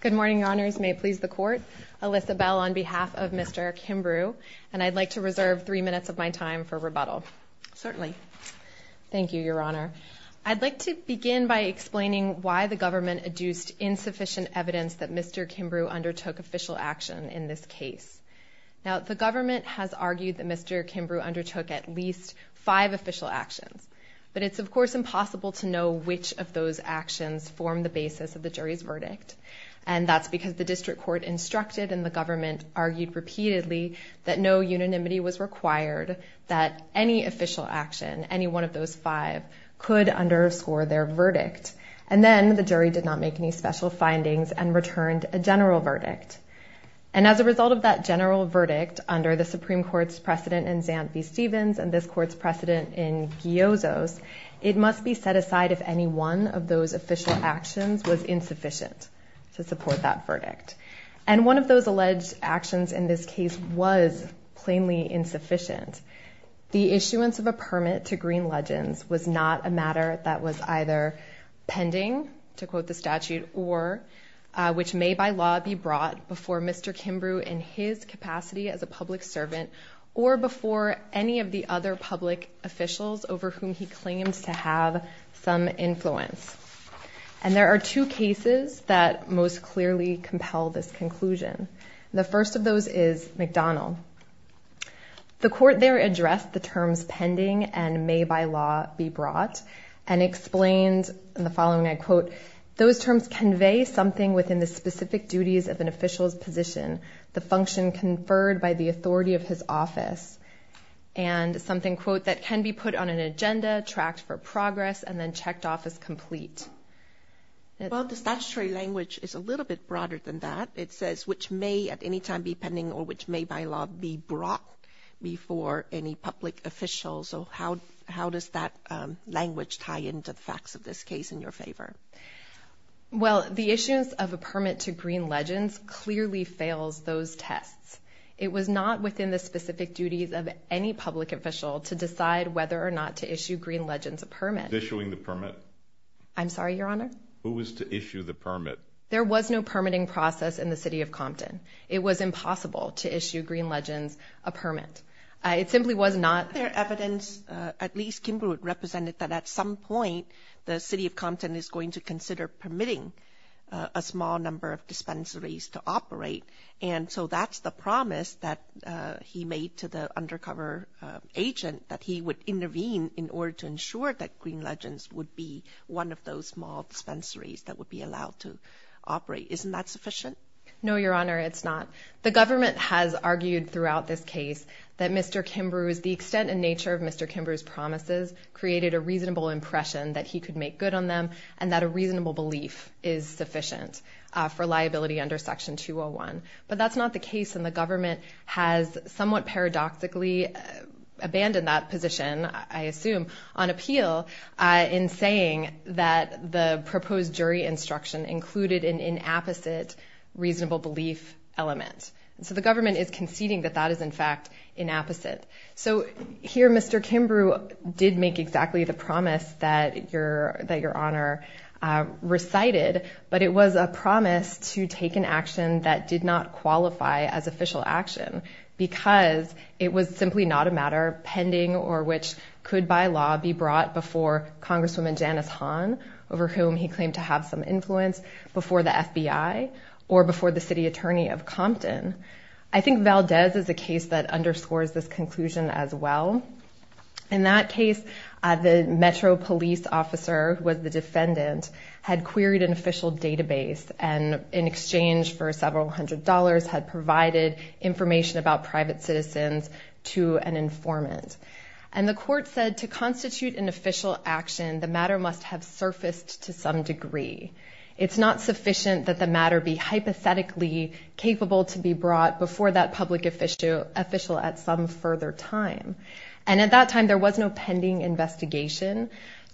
Good morning, your honors. May it please the court. Alyssa Bell on behalf of Mr. Kimbrew. And I'd like to reserve three minutes of my time for rebuttal. Certainly. Thank you, your honor. I'd like to begin by explaining why the government adduced insufficient evidence that Mr. Kimbrew undertook official action in this case. Now, the government has argued that Mr. Kimbrew undertook at least five official actions. But it's, of course, impossible to know which of those actions form the basis of the jury's verdict. And that's because the district court instructed and the government argued repeatedly that no unanimity was required, that any official action, any one of those five, could underscore their verdict. And then the jury did not make any special findings and returned a general verdict. And as a result of that general verdict, under the Supreme Court's precedent in Zanvi Stevens and this court's precedent in Giozo's, it must be set aside if any one of those official actions was insufficient to support that verdict. And one of those alleged actions in this case was plainly insufficient. The issuance of a permit to Green Legends was not a matter that was either pending, to quote the statute, or which may by law be brought before Mr. Kimbrew in his capacity as a public servant or before any of the other public officials over whom he claimed to have some influence. And there are two cases that most clearly compel this conclusion. The first of those is McDonald. The court there addressed the terms pending and may by law be brought and explained in the following, I quote, Those terms convey something within the specific duties of an official's position, the function conferred by the authority of his office, and something, quote, that can be put on an agenda, tracked for progress, and then checked off as complete. Well, the statutory language is a little bit broader than that. It says which may at any time be pending or which may by law be brought before any public officials. So how does that language tie into the facts of this case in your favor? Well, the issuance of a permit to Green Legends clearly fails those tests. It was not within the specific duties of any public official to decide whether or not to issue Green Legends a permit. Issuing the permit? I'm sorry, Your Honor? Who was to issue the permit? There was no permitting process in the city of Compton. It was impossible to issue Green Legends a permit. It simply was not. There is evidence, at least Kimbrough represented, that at some point the city of Compton is going to consider permitting a small number of dispensaries to operate. And so that's the promise that he made to the undercover agent that he would intervene in order to ensure that Green Legends would be one of those small dispensaries that would be allowed to operate. Isn't that sufficient? No, Your Honor, it's not. The government has argued throughout this case that Mr. Kimbrough, the extent and nature of Mr. Kimbrough's promises, created a reasonable impression that he could make good on them and that a reasonable belief is sufficient for liability under Section 201. But that's not the case, and the government has somewhat paradoxically abandoned that position, I assume, on appeal in saying that the proposed jury instruction included an inapposite reasonable belief element. So the government is conceding that that is, in fact, inapposite. So here Mr. Kimbrough did make exactly the promise that Your Honor recited, but it was a promise to take an action that did not qualify as official action because it was simply not a matter pending or which could by law be brought before Congresswoman Janice Hahn, over whom he claimed to have some influence, before the FBI or before the city attorney of Compton. I think Valdez is a case that underscores this conclusion as well. In that case, the metro police officer who was the defendant had queried an official database and in exchange for several hundred dollars had provided information about private citizens to an informant. And the court said to constitute an official action, the matter must have surfaced to some degree. It's not sufficient that the matter be hypothetically capable to be brought before that public official at some further time. And at that time there was no pending investigation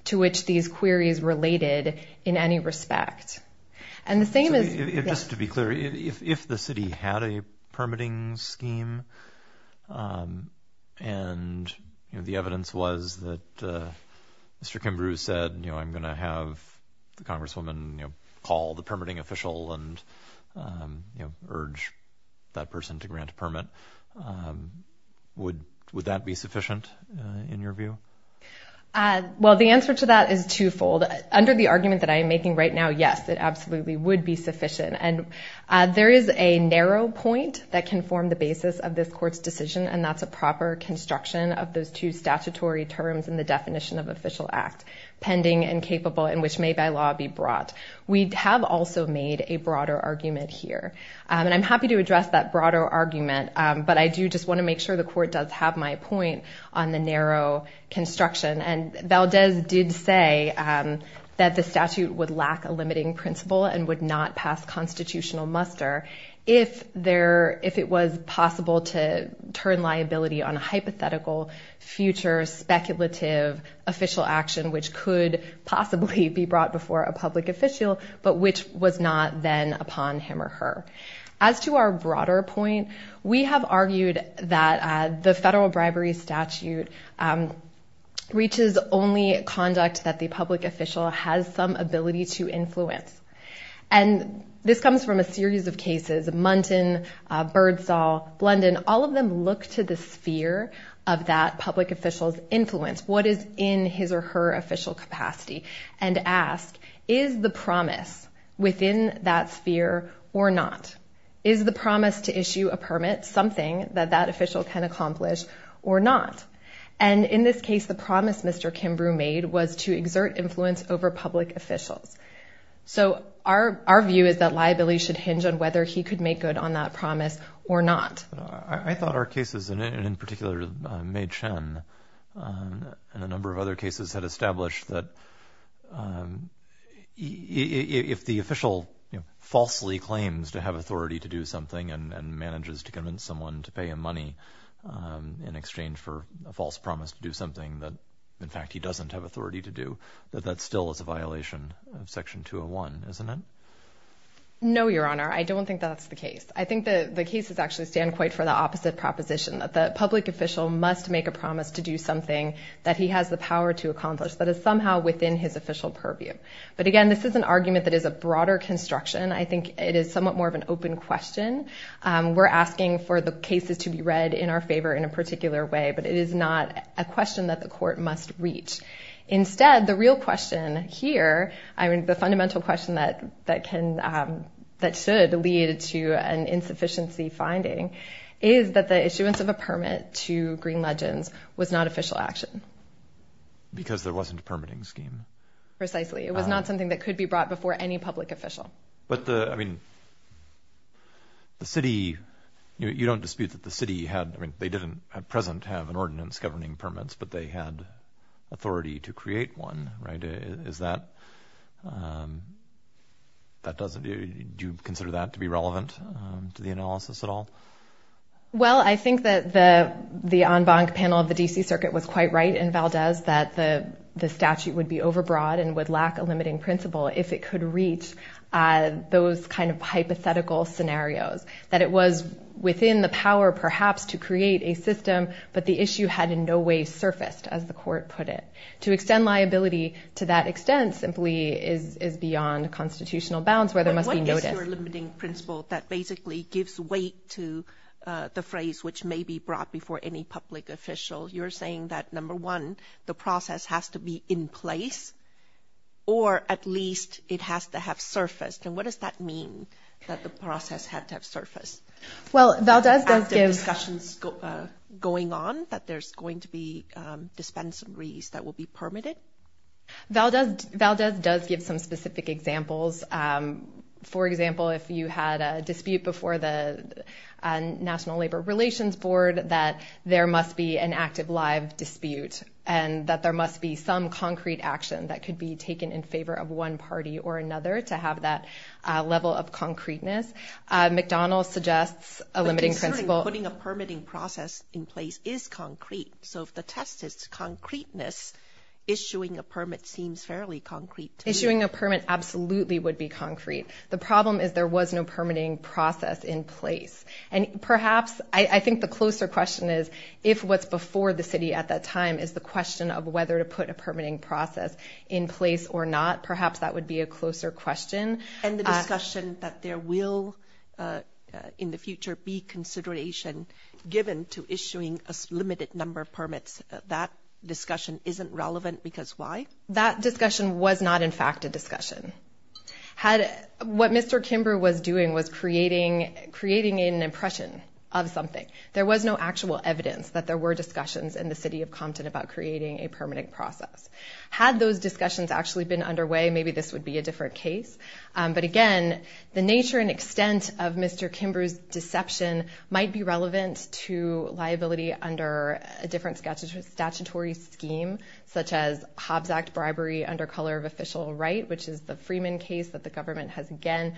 to which these queries related in any respect. Just to be clear, if the city had a permitting scheme and the evidence was that Mr. Kimbrough said, I'm going to have the Congresswoman call the permitting official and urge that person to grant a permit, would that be sufficient in your view? Well, the answer to that is twofold. Under the argument that I'm making right now, yes, it absolutely would be sufficient. And there is a narrow point that can form the basis of this court's decision, and that's a proper construction of those two statutory terms in the definition of official act, pending and capable and which may by law be brought. We have also made a broader argument here. And I'm happy to address that broader argument, but I do just want to make sure the court does have my point on the narrow construction. And Valdez did say that the statute would lack a limiting principle and would not pass constitutional muster if it was possible to turn liability on a hypothetical, future, speculative official action which could possibly be brought before a public official, but which was not then upon him or her. As to our broader point, we have argued that the federal bribery statute reaches only conduct that the public official has some ability to influence. And this comes from a series of cases, Muntin, Birdsall, Blunden, all of them look to the sphere of that public official's influence, what is in his or her official capacity, and ask, is the promise within that sphere or not? Is the promise to issue a permit something that that official can accomplish or not? And in this case, the promise Mr. Kimbrough made was to exert influence over public officials. So our view is that liability should hinge on whether he could make good on that promise or not. I thought our cases, and in particular May Chen and a number of other cases, had established that if the official falsely claims to have authority to do something and manages to convince someone to pay him money in exchange for a false promise to do something that, in fact, he doesn't have authority to do, that that still is a violation of Section 201, isn't it? No, Your Honor, I don't think that's the case. I think the cases actually stand quite for the opposite proposition, that the public official must make a promise to do something that he has the power to accomplish, that is somehow within his official purview. But again, this is an argument that is a broader construction. I think it is somewhat more of an open question. We're asking for the cases to be read in our favor in a particular way, but it is not a question that the court must reach. Instead, the real question here, the fundamental question that should lead to an insufficiency finding, is that the issuance of a permit to Green Legends was not official action. Because there wasn't a permitting scheme. Precisely. It was not something that could be brought before any public official. But the city, you don't dispute that the city had, I mean, the authority to create one, right? Do you consider that to be relevant to the analysis at all? Well, I think that the en banc panel of the D.C. Circuit was quite right in Valdez, that the statute would be overbroad and would lack a limiting principle if it could reach those kind of hypothetical scenarios. That it was within the power, perhaps, to create a system, but the issue had in no way surfaced, as the court put it. To extend liability to that extent simply is beyond constitutional bounds, where there must be notice. What is your limiting principle that basically gives weight to the phrase which may be brought before any public official? You're saying that, number one, the process has to be in place, or at least it has to have surfaced. And what does that mean, that the process had to have surfaced? Well, Valdez does give- Active discussions going on, that there's going to be dispensaries that will be permitted? Valdez does give some specific examples. For example, if you had a dispute before the National Labor Relations Board, that there must be an active live dispute, and that there must be some concrete action that could be taken in favor of one party or another to have that level of concreteness. McDonald's suggests a limiting principle- But considering putting a permitting process in place is concrete, so if the test is concreteness, issuing a permit seems fairly concrete to me. Issuing a permit absolutely would be concrete. The problem is there was no permitting process in place. And perhaps I think the closer question is, if what's before the city at that time is the question of whether to put a permitting process in place or not, perhaps that would be a closer question. And the discussion that there will, in the future, be consideration given to issuing a limited number of permits, that discussion isn't relevant because why? That discussion was not, in fact, a discussion. What Mr. Kimbrough was doing was creating an impression of something. There was no actual evidence that there were discussions in the city of Compton about creating a permitting process. Had those discussions actually been underway, maybe this would be a different case. But, again, the nature and extent of Mr. Kimbrough's deception might be relevant to liability under a different statutory scheme, such as Hobbs Act bribery under color of official right, which is the Freeman case that the government has, again,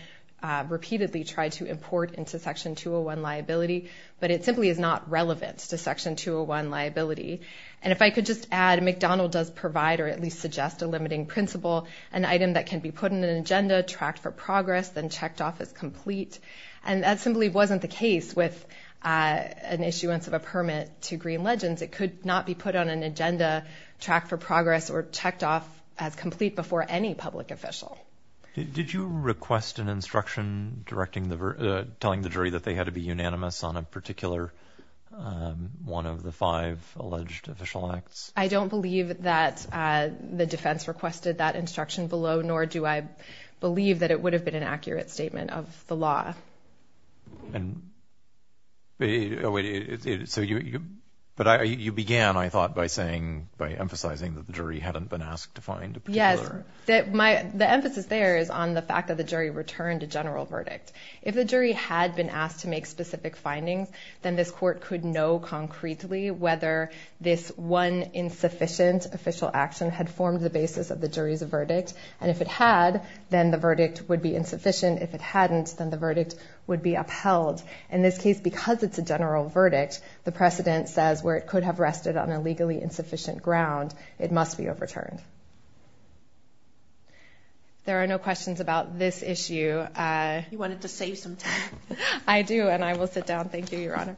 repeatedly tried to import into Section 201 liability. But it simply is not relevant to Section 201 liability. And if I could just add, McDonald's does provide or at least suggest a limiting principle, an item that can be put in an agenda, tracked for progress, then checked off as complete. And that simply wasn't the case with an issuance of a permit to Green Legends. It could not be put on an agenda, tracked for progress, or checked off as complete before any public official. Did you request an instruction telling the jury that they had to be unanimous on a particular one of the five alleged official acts? I don't believe that the defense requested that instruction below, nor do I believe that it would have been an accurate statement of the law. But you began, I thought, by saying, by emphasizing that the jury hadn't been asked to find a particular. Yes. The emphasis there is on the fact that the jury returned a general verdict. If the jury had been asked to make specific findings, then this court could know concretely whether this one insufficient official action had formed the basis of the jury's verdict. And if it had, then the verdict would be insufficient. If it hadn't, then the verdict would be upheld. In this case, because it's a general verdict, the precedent says where it could have rested on a legally insufficient ground, it must be overturned. There are no questions about this issue. You wanted to save some time. I do, and I will sit down. Thank you, Your Honor.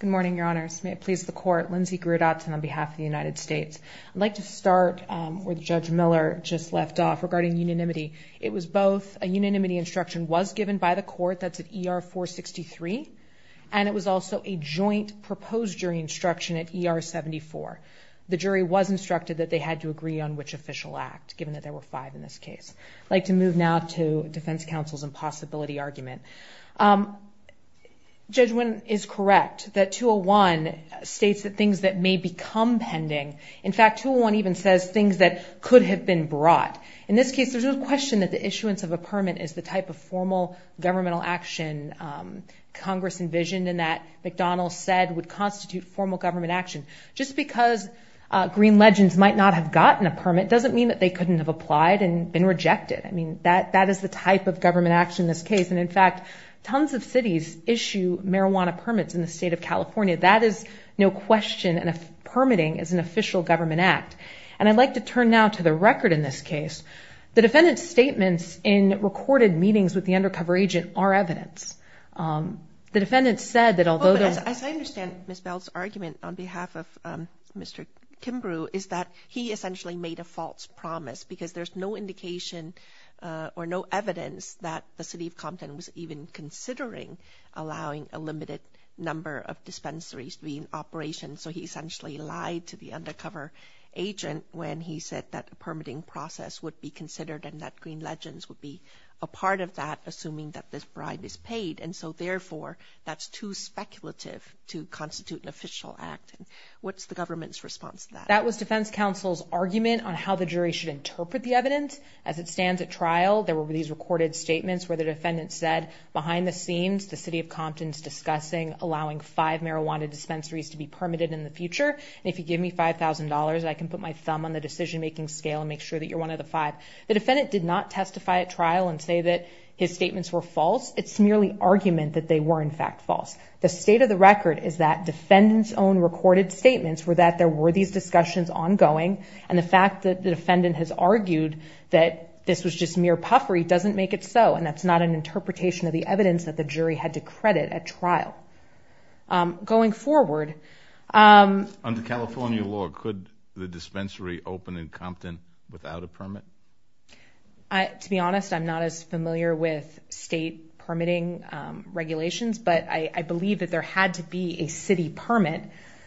Good morning, Your Honors. May it please the Court. Lindsay Grudatz on behalf of the United States. I'd like to start where Judge Miller just left off regarding unanimity. It was both a unanimity instruction was given by the court, that's at ER 463, and it was also a joint proposed jury instruction at ER 74. The jury was instructed that they had to agree on which official act, given that there were five in this case. I'd like to move now to defense counsel's impossibility argument. Judge Wynn is correct that 201 states that things that may become pending. In fact, 201 even says things that could have been brought. In this case, there's no question that the issuance of a permit is the type of formal governmental action Congress envisioned and that McDonald said would constitute formal government action. Just because green legends might not have gotten a permit doesn't mean that they couldn't have applied and been rejected. I mean, that is the type of government action in this case. And, in fact, tons of cities issue marijuana permits in the state of California. That is no question, and permitting is an official government act. And I'd like to turn now to the record in this case. The defendant's statements in recorded meetings with the undercover agent are evidence. The defendant said that although there was. As I understand Ms. Bell's argument on behalf of Mr. Kimbrough is that he essentially made a false promise because there's no indication or no evidence that the city of Compton was even considering allowing a limited number of dispensaries to be in operation. So he essentially lied to the undercover agent when he said that permitting process would be considered and that green legends would be a part of that, assuming that this bribe is paid. And so, therefore, that's too speculative to constitute an official act. What's the government's response to that? That was defense counsel's argument on how the jury should interpret the evidence. As it stands at trial, there were these recorded statements where the defendant said behind the scenes, the city of Compton's discussing allowing five marijuana dispensaries to be permitted in the future. And if you give me $5,000, I can put my thumb on the decision-making scale and make sure that you're one of the five. The defendant did not testify at trial and say that his statements were false. It's merely argument that they were, in fact, false. The state of the record is that defendant's own recorded statements were that there were these discussions ongoing. And the fact that the defendant has argued that this was just mere puffery doesn't make it so. And that's not an interpretation of the evidence that the jury had to credit at trial. Going forward. Under California law, could the dispensary open in Compton without a permit? To be honest, I'm not as familiar with state permitting regulations, but I believe that there had to be a city permit.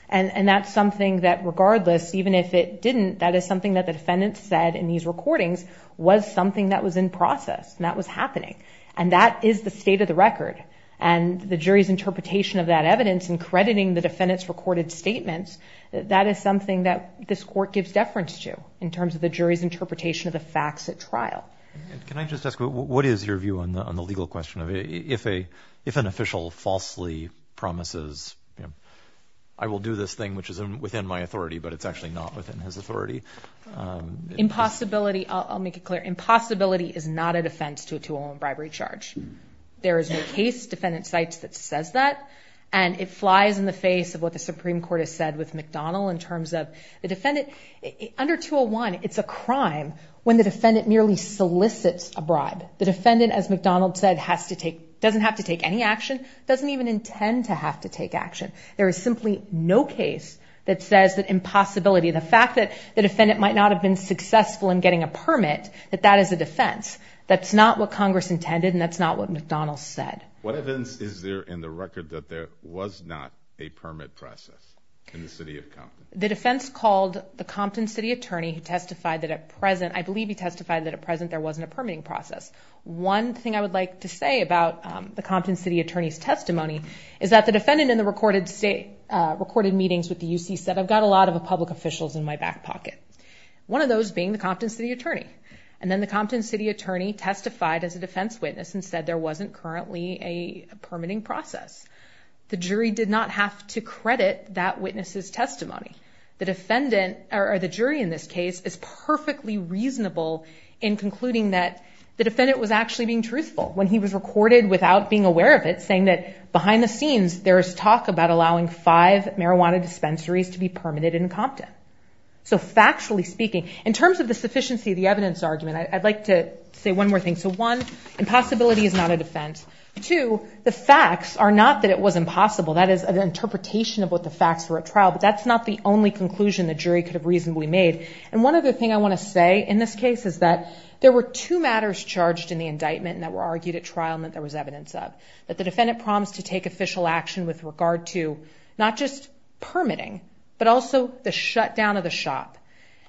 And that's something that, regardless, even if it didn't, that is something that the defendant said in these recordings was something that was in process and that was happening. And that is the state of the record. And the jury's interpretation of that evidence and crediting the defendant's recorded statements, that is something that this court gives deference to in terms of the jury's interpretation of the facts at trial. Can I just ask, what is your view on the legal question of if an official falsely promises, I will do this thing which is within my authority, but it's actually not within his authority? Impossibility, I'll make it clear. Impossibility is not a defense to a 201 bribery charge. There is no case defendant cites that says that. And it flies in the face of what the Supreme Court has said with McDonnell in terms of the defendant. Under 201, it's a crime when the defendant merely solicits a bribe. The defendant, as McDonnell said, doesn't have to take any action. Doesn't even intend to have to take action. There is simply no case that says that impossibility, the fact that the defendant might not have been successful in getting a permit, that that is a defense. That's not what Congress intended, and that's not what McDonnell said. What evidence is there in the record that there was not a permit process in the city of Compton? The defense called the Compton city attorney who testified that at present, I believe he testified that at present there wasn't a permitting process. One thing I would like to say about the Compton city attorney's testimony is that the defendant in the recorded meetings with the UC said, I've got a lot of public officials in my back pocket. One of those being the Compton city attorney. And then the Compton city attorney testified as a defense witness and said there wasn't currently a permitting process. The jury did not have to credit that witness's testimony. The jury in this case is perfectly reasonable in concluding that the defendant was actually being truthful when he was recorded without being aware of it, saying that behind the scenes there is talk about allowing five marijuana dispensaries to be permitted in Compton. So factually speaking, in terms of the sufficiency of the evidence argument, I'd like to say one more thing. So one, impossibility is not a defense. Two, the facts are not that it was impossible. That is an interpretation of what the facts were at trial, but that's not the only conclusion the jury could have reasonably made. And one other thing I want to say in this case is that there were two matters charged in the indictment that were argued at trial and that there was evidence of. That the defendant promised to take official action with regard to not just permitting, but also the shutdown of the shop.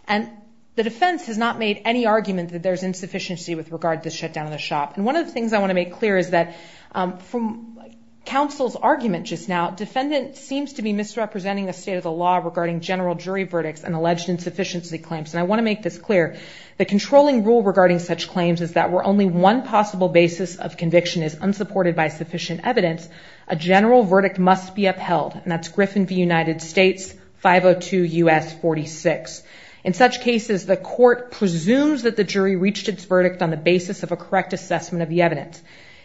And the defense has not made any argument that there's insufficiency with regard to the shutdown of the shop. And one of the things I want to make clear is that from counsel's argument just now, the defendant seems to be misrepresenting the state of the law regarding general jury verdicts and alleged insufficiency claims. And I want to make this clear. The controlling rule regarding such claims is that where only one possible basis of conviction is unsupported by sufficient evidence, a general verdict must be upheld. And that's Griffin v. United States, 502 U.S. 46. In such cases, the court presumes that the jury reached its verdict on the basis of a correct assessment of the evidence.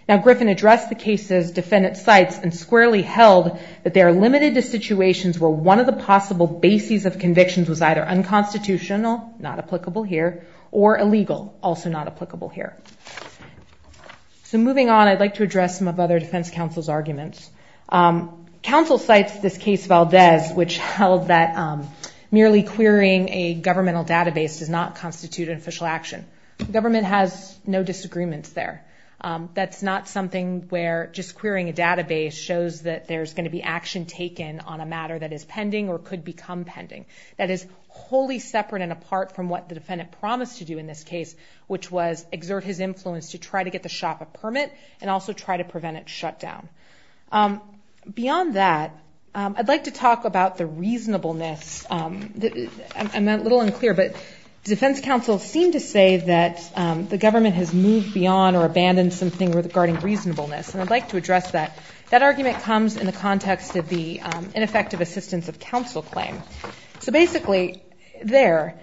Now, Griffin addressed the case's defendant's sites and squarely held that they are limited to situations where one of the possible bases of convictions was either unconstitutional, not applicable here, or illegal, also not applicable here. So moving on, I'd like to address some of other defense counsel's arguments. Counsel cites this case Valdez, which held that merely querying a governmental database does not constitute an official action. The government has no disagreements there. That's not something where just querying a database shows that there's going to be action taken on a matter that is pending or could become pending. That is wholly separate and apart from what the defendant promised to do in this case, which was exert his influence to try to get the shop a permit and also try to prevent its shutdown. Beyond that, I'd like to talk about the reasonableness. I'm a little unclear, but defense counsel seemed to say that the government has moved beyond or abandoned something regarding reasonableness, and I'd like to address that. That argument comes in the context of the ineffective assistance of counsel claim. So basically, there,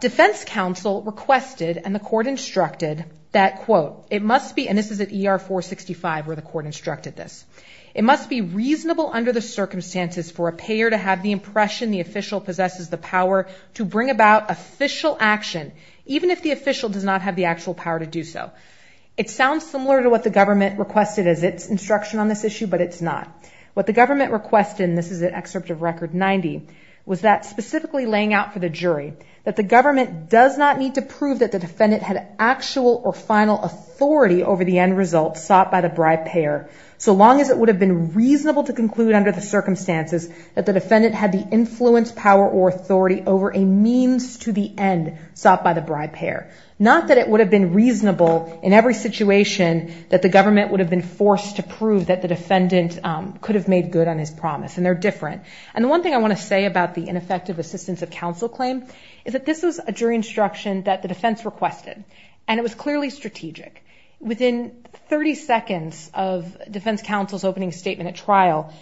defense counsel requested and the court instructed that, quote, it must be, and this is at ER 465 where the court instructed this, it must be reasonable under the circumstances for a payer to have the impression the official possesses the power to bring about official action, even if the official does not have the actual power to do so. It sounds similar to what the government requested as its instruction on this issue, but it's not. What the government requested, and this is at Excerpt of Record 90, was that specifically laying out for the jury that the government does not need to prove that the defendant had actual or final authority over the end result sought by the bribe payer so long as it would have been reasonable to conclude under the circumstances that the defendant had the influence, power, or authority over a means to the end sought by the bribe payer. Not that it would have been reasonable in every situation that the government would have been forced to prove that the defendant could have made good on his promise, and they're different. And the one thing I want to say about the ineffective assistance of counsel claim is that this was a jury instruction that the defense requested, and it was clearly strategic. Within 30 seconds of defense counsel's opening statement at trial,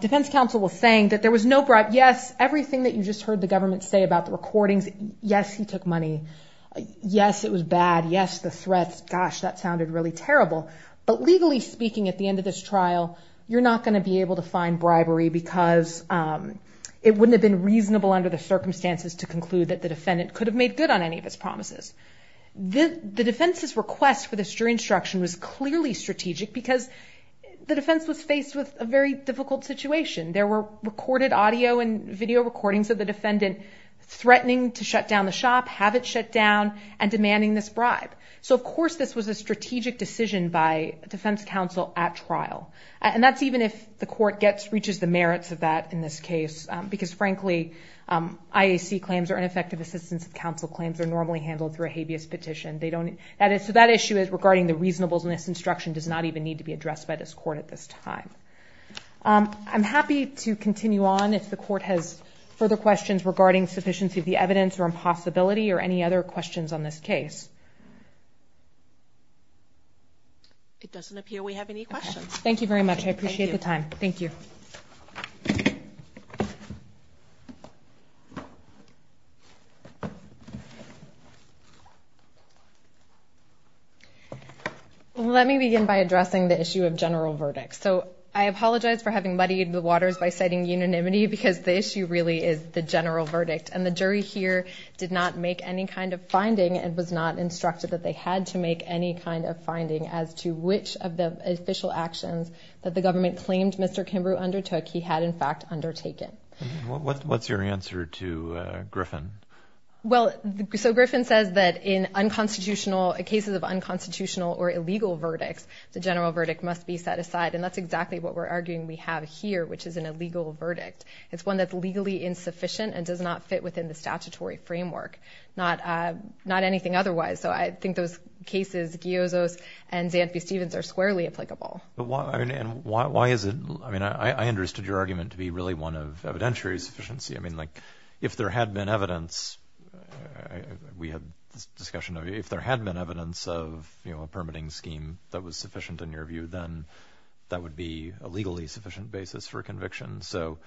defense counsel was saying that there was no bribe. Yes, everything that you just heard the government say about the recordings, yes, he took money. Yes, it was bad. Yes, the threats, gosh, that sounded really terrible. But legally speaking, at the end of this trial, you're not going to be able to find bribery because it wouldn't have been reasonable under the circumstances to conclude that the defendant could have made good on any of his promises. The defense's request for this jury instruction was clearly strategic because the defense was faced with a very difficult situation. There were recorded audio and video recordings of the defendant threatening to shut down the shop, have it shut down, and demanding this bribe. So of course this was a strategic decision by defense counsel at trial, and that's even if the court reaches the merits of that in this case because, frankly, IAC claims or ineffective assistance of counsel claims are normally handled through a habeas petition. So that issue regarding the reasonableness of this instruction does not even need to be addressed by this court at this time. I'm happy to continue on if the court has further questions regarding sufficiency of the evidence or impossibility or any other questions on this case. It doesn't appear we have any questions. Thank you very much. I appreciate the time. Thank you. Let me begin by addressing the issue of general verdict. So I apologize for having muddied the waters by citing unanimity because the issue really is the general verdict, and the jury here did not make any kind of finding as to which of the official actions that the government claimed Mr. Kimbrough undertook he had, in fact, undertaken. What's your answer to Griffin? Well, so Griffin says that in cases of unconstitutional or illegal verdicts, the general verdict must be set aside, and that's exactly what we're arguing we have here, which is an illegal verdict. It's one that's legally insufficient and does not fit within the statutory framework, not anything otherwise. So I think those cases, Giozo's and Zanthi-Stevens, are squarely applicable. And why is it? I mean, I understood your argument to be really one of evidentiary sufficiency. I mean, like, if there had been evidence, we had this discussion, if there had been evidence of a permitting scheme that was sufficient in your view, then that would be a legally sufficient basis for conviction. So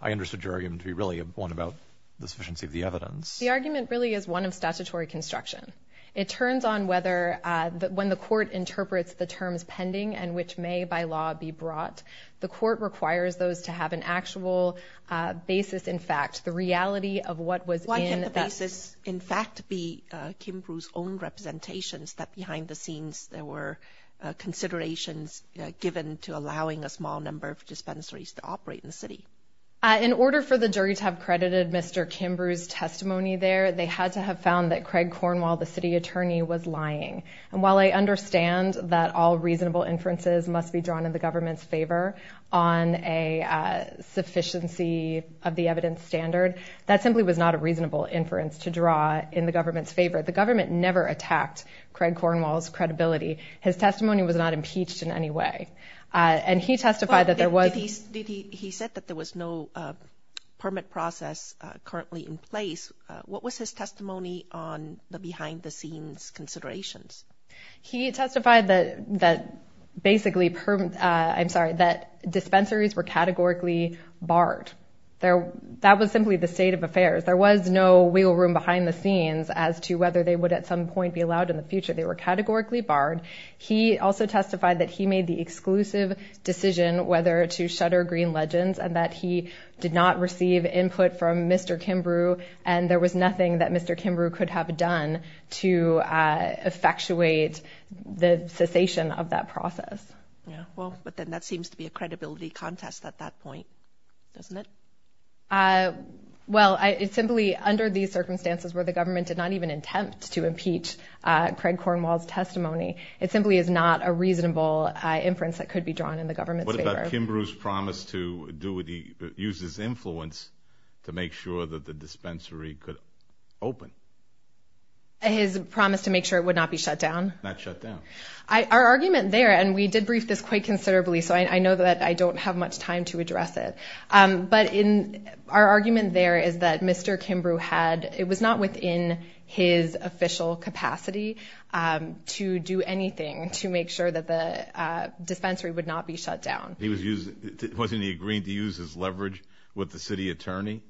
I understood your argument to be really one about the sufficiency of the evidence. The argument really is one of statutory construction. It turns on whether when the court interprets the terms pending and which may by law be brought, the court requires those to have an actual basis in fact, the reality of what was in that. Why can't the basis in fact be Kimbrough's own representations that behind the scenes there were considerations given to allowing a small number of dispensaries to operate in the city? In order for the jury to have credited Mr. Kimbrough's testimony there, they had to have found that Craig Cornwall, the city attorney, was lying. And while I understand that all reasonable inferences must be drawn in the government's favor on a sufficiency of the evidence standard, that simply was not a reasonable inference to draw in the government's favor. The government never attacked Craig Cornwall's credibility. His testimony was not impeached in any way. And he testified that there was... He said that there was no permit process currently in place. What was his testimony on the behind the scenes considerations? He testified that basically, I'm sorry, that dispensaries were categorically barred. That was simply the state of affairs. There was no wiggle room behind the scenes as to whether they would at some point be allowed in the future. They were categorically barred. He also testified that he made the exclusive decision whether to shutter Green Legends and that he did not receive input from Mr. Kimbrough, and there was nothing that Mr. Kimbrough could have done to effectuate the cessation of that process. Yeah, well, but then that seems to be a credibility contest at that point, doesn't it? Well, simply under these circumstances where the government did not even attempt to impeach Craig Cornwall's testimony, it simply is not a reasonable inference that could be drawn in the government's favor. What about Kimbrough's promise to use his influence to make sure that the dispensary could open? His promise to make sure it would not be shut down? Not shut down. Our argument there, and we did brief this quite considerably, so I know that I don't have much time to address it, but our argument there is that Mr. Kimbrough had... to do anything to make sure that the dispensary would not be shut down. Wasn't he agreeing to use his leverage with the city attorney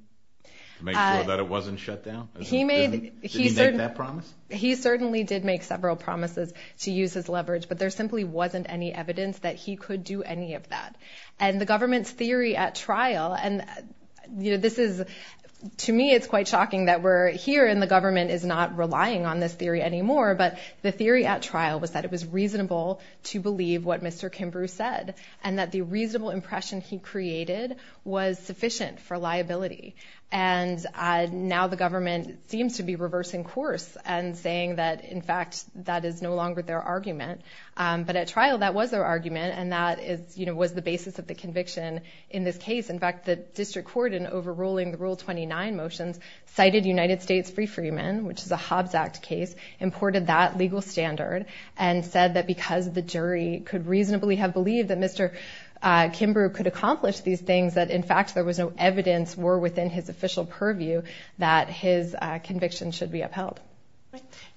to make sure that it wasn't shut down? Did he make that promise? He certainly did make several promises to use his leverage, but there simply wasn't any evidence that he could do any of that. And the government's theory at trial, and this is... but the theory at trial was that it was reasonable to believe what Mr. Kimbrough said and that the reasonable impression he created was sufficient for liability. And now the government seems to be reversing course and saying that, in fact, that is no longer their argument. But at trial, that was their argument, and that was the basis of the conviction in this case. In fact, the district court, in overruling the Rule 29 motions, cited United States free freemen, which is a Hobbs Act case, imported that legal standard, and said that because the jury could reasonably have believed that Mr. Kimbrough could accomplish these things, that, in fact, there was no evidence or within his official purview that his conviction should be upheld.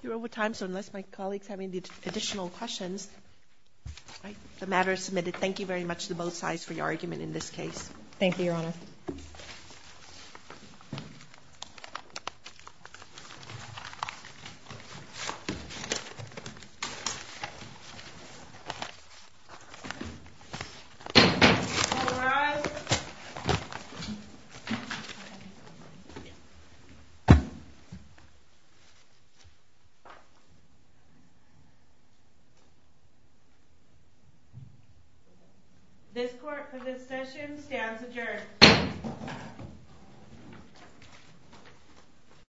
You're over time, so unless my colleagues have any additional questions... All right, the matter is submitted. Thank you, Your Honor. Thank you. All rise. This court, for this session, stands adjourned. Thank you.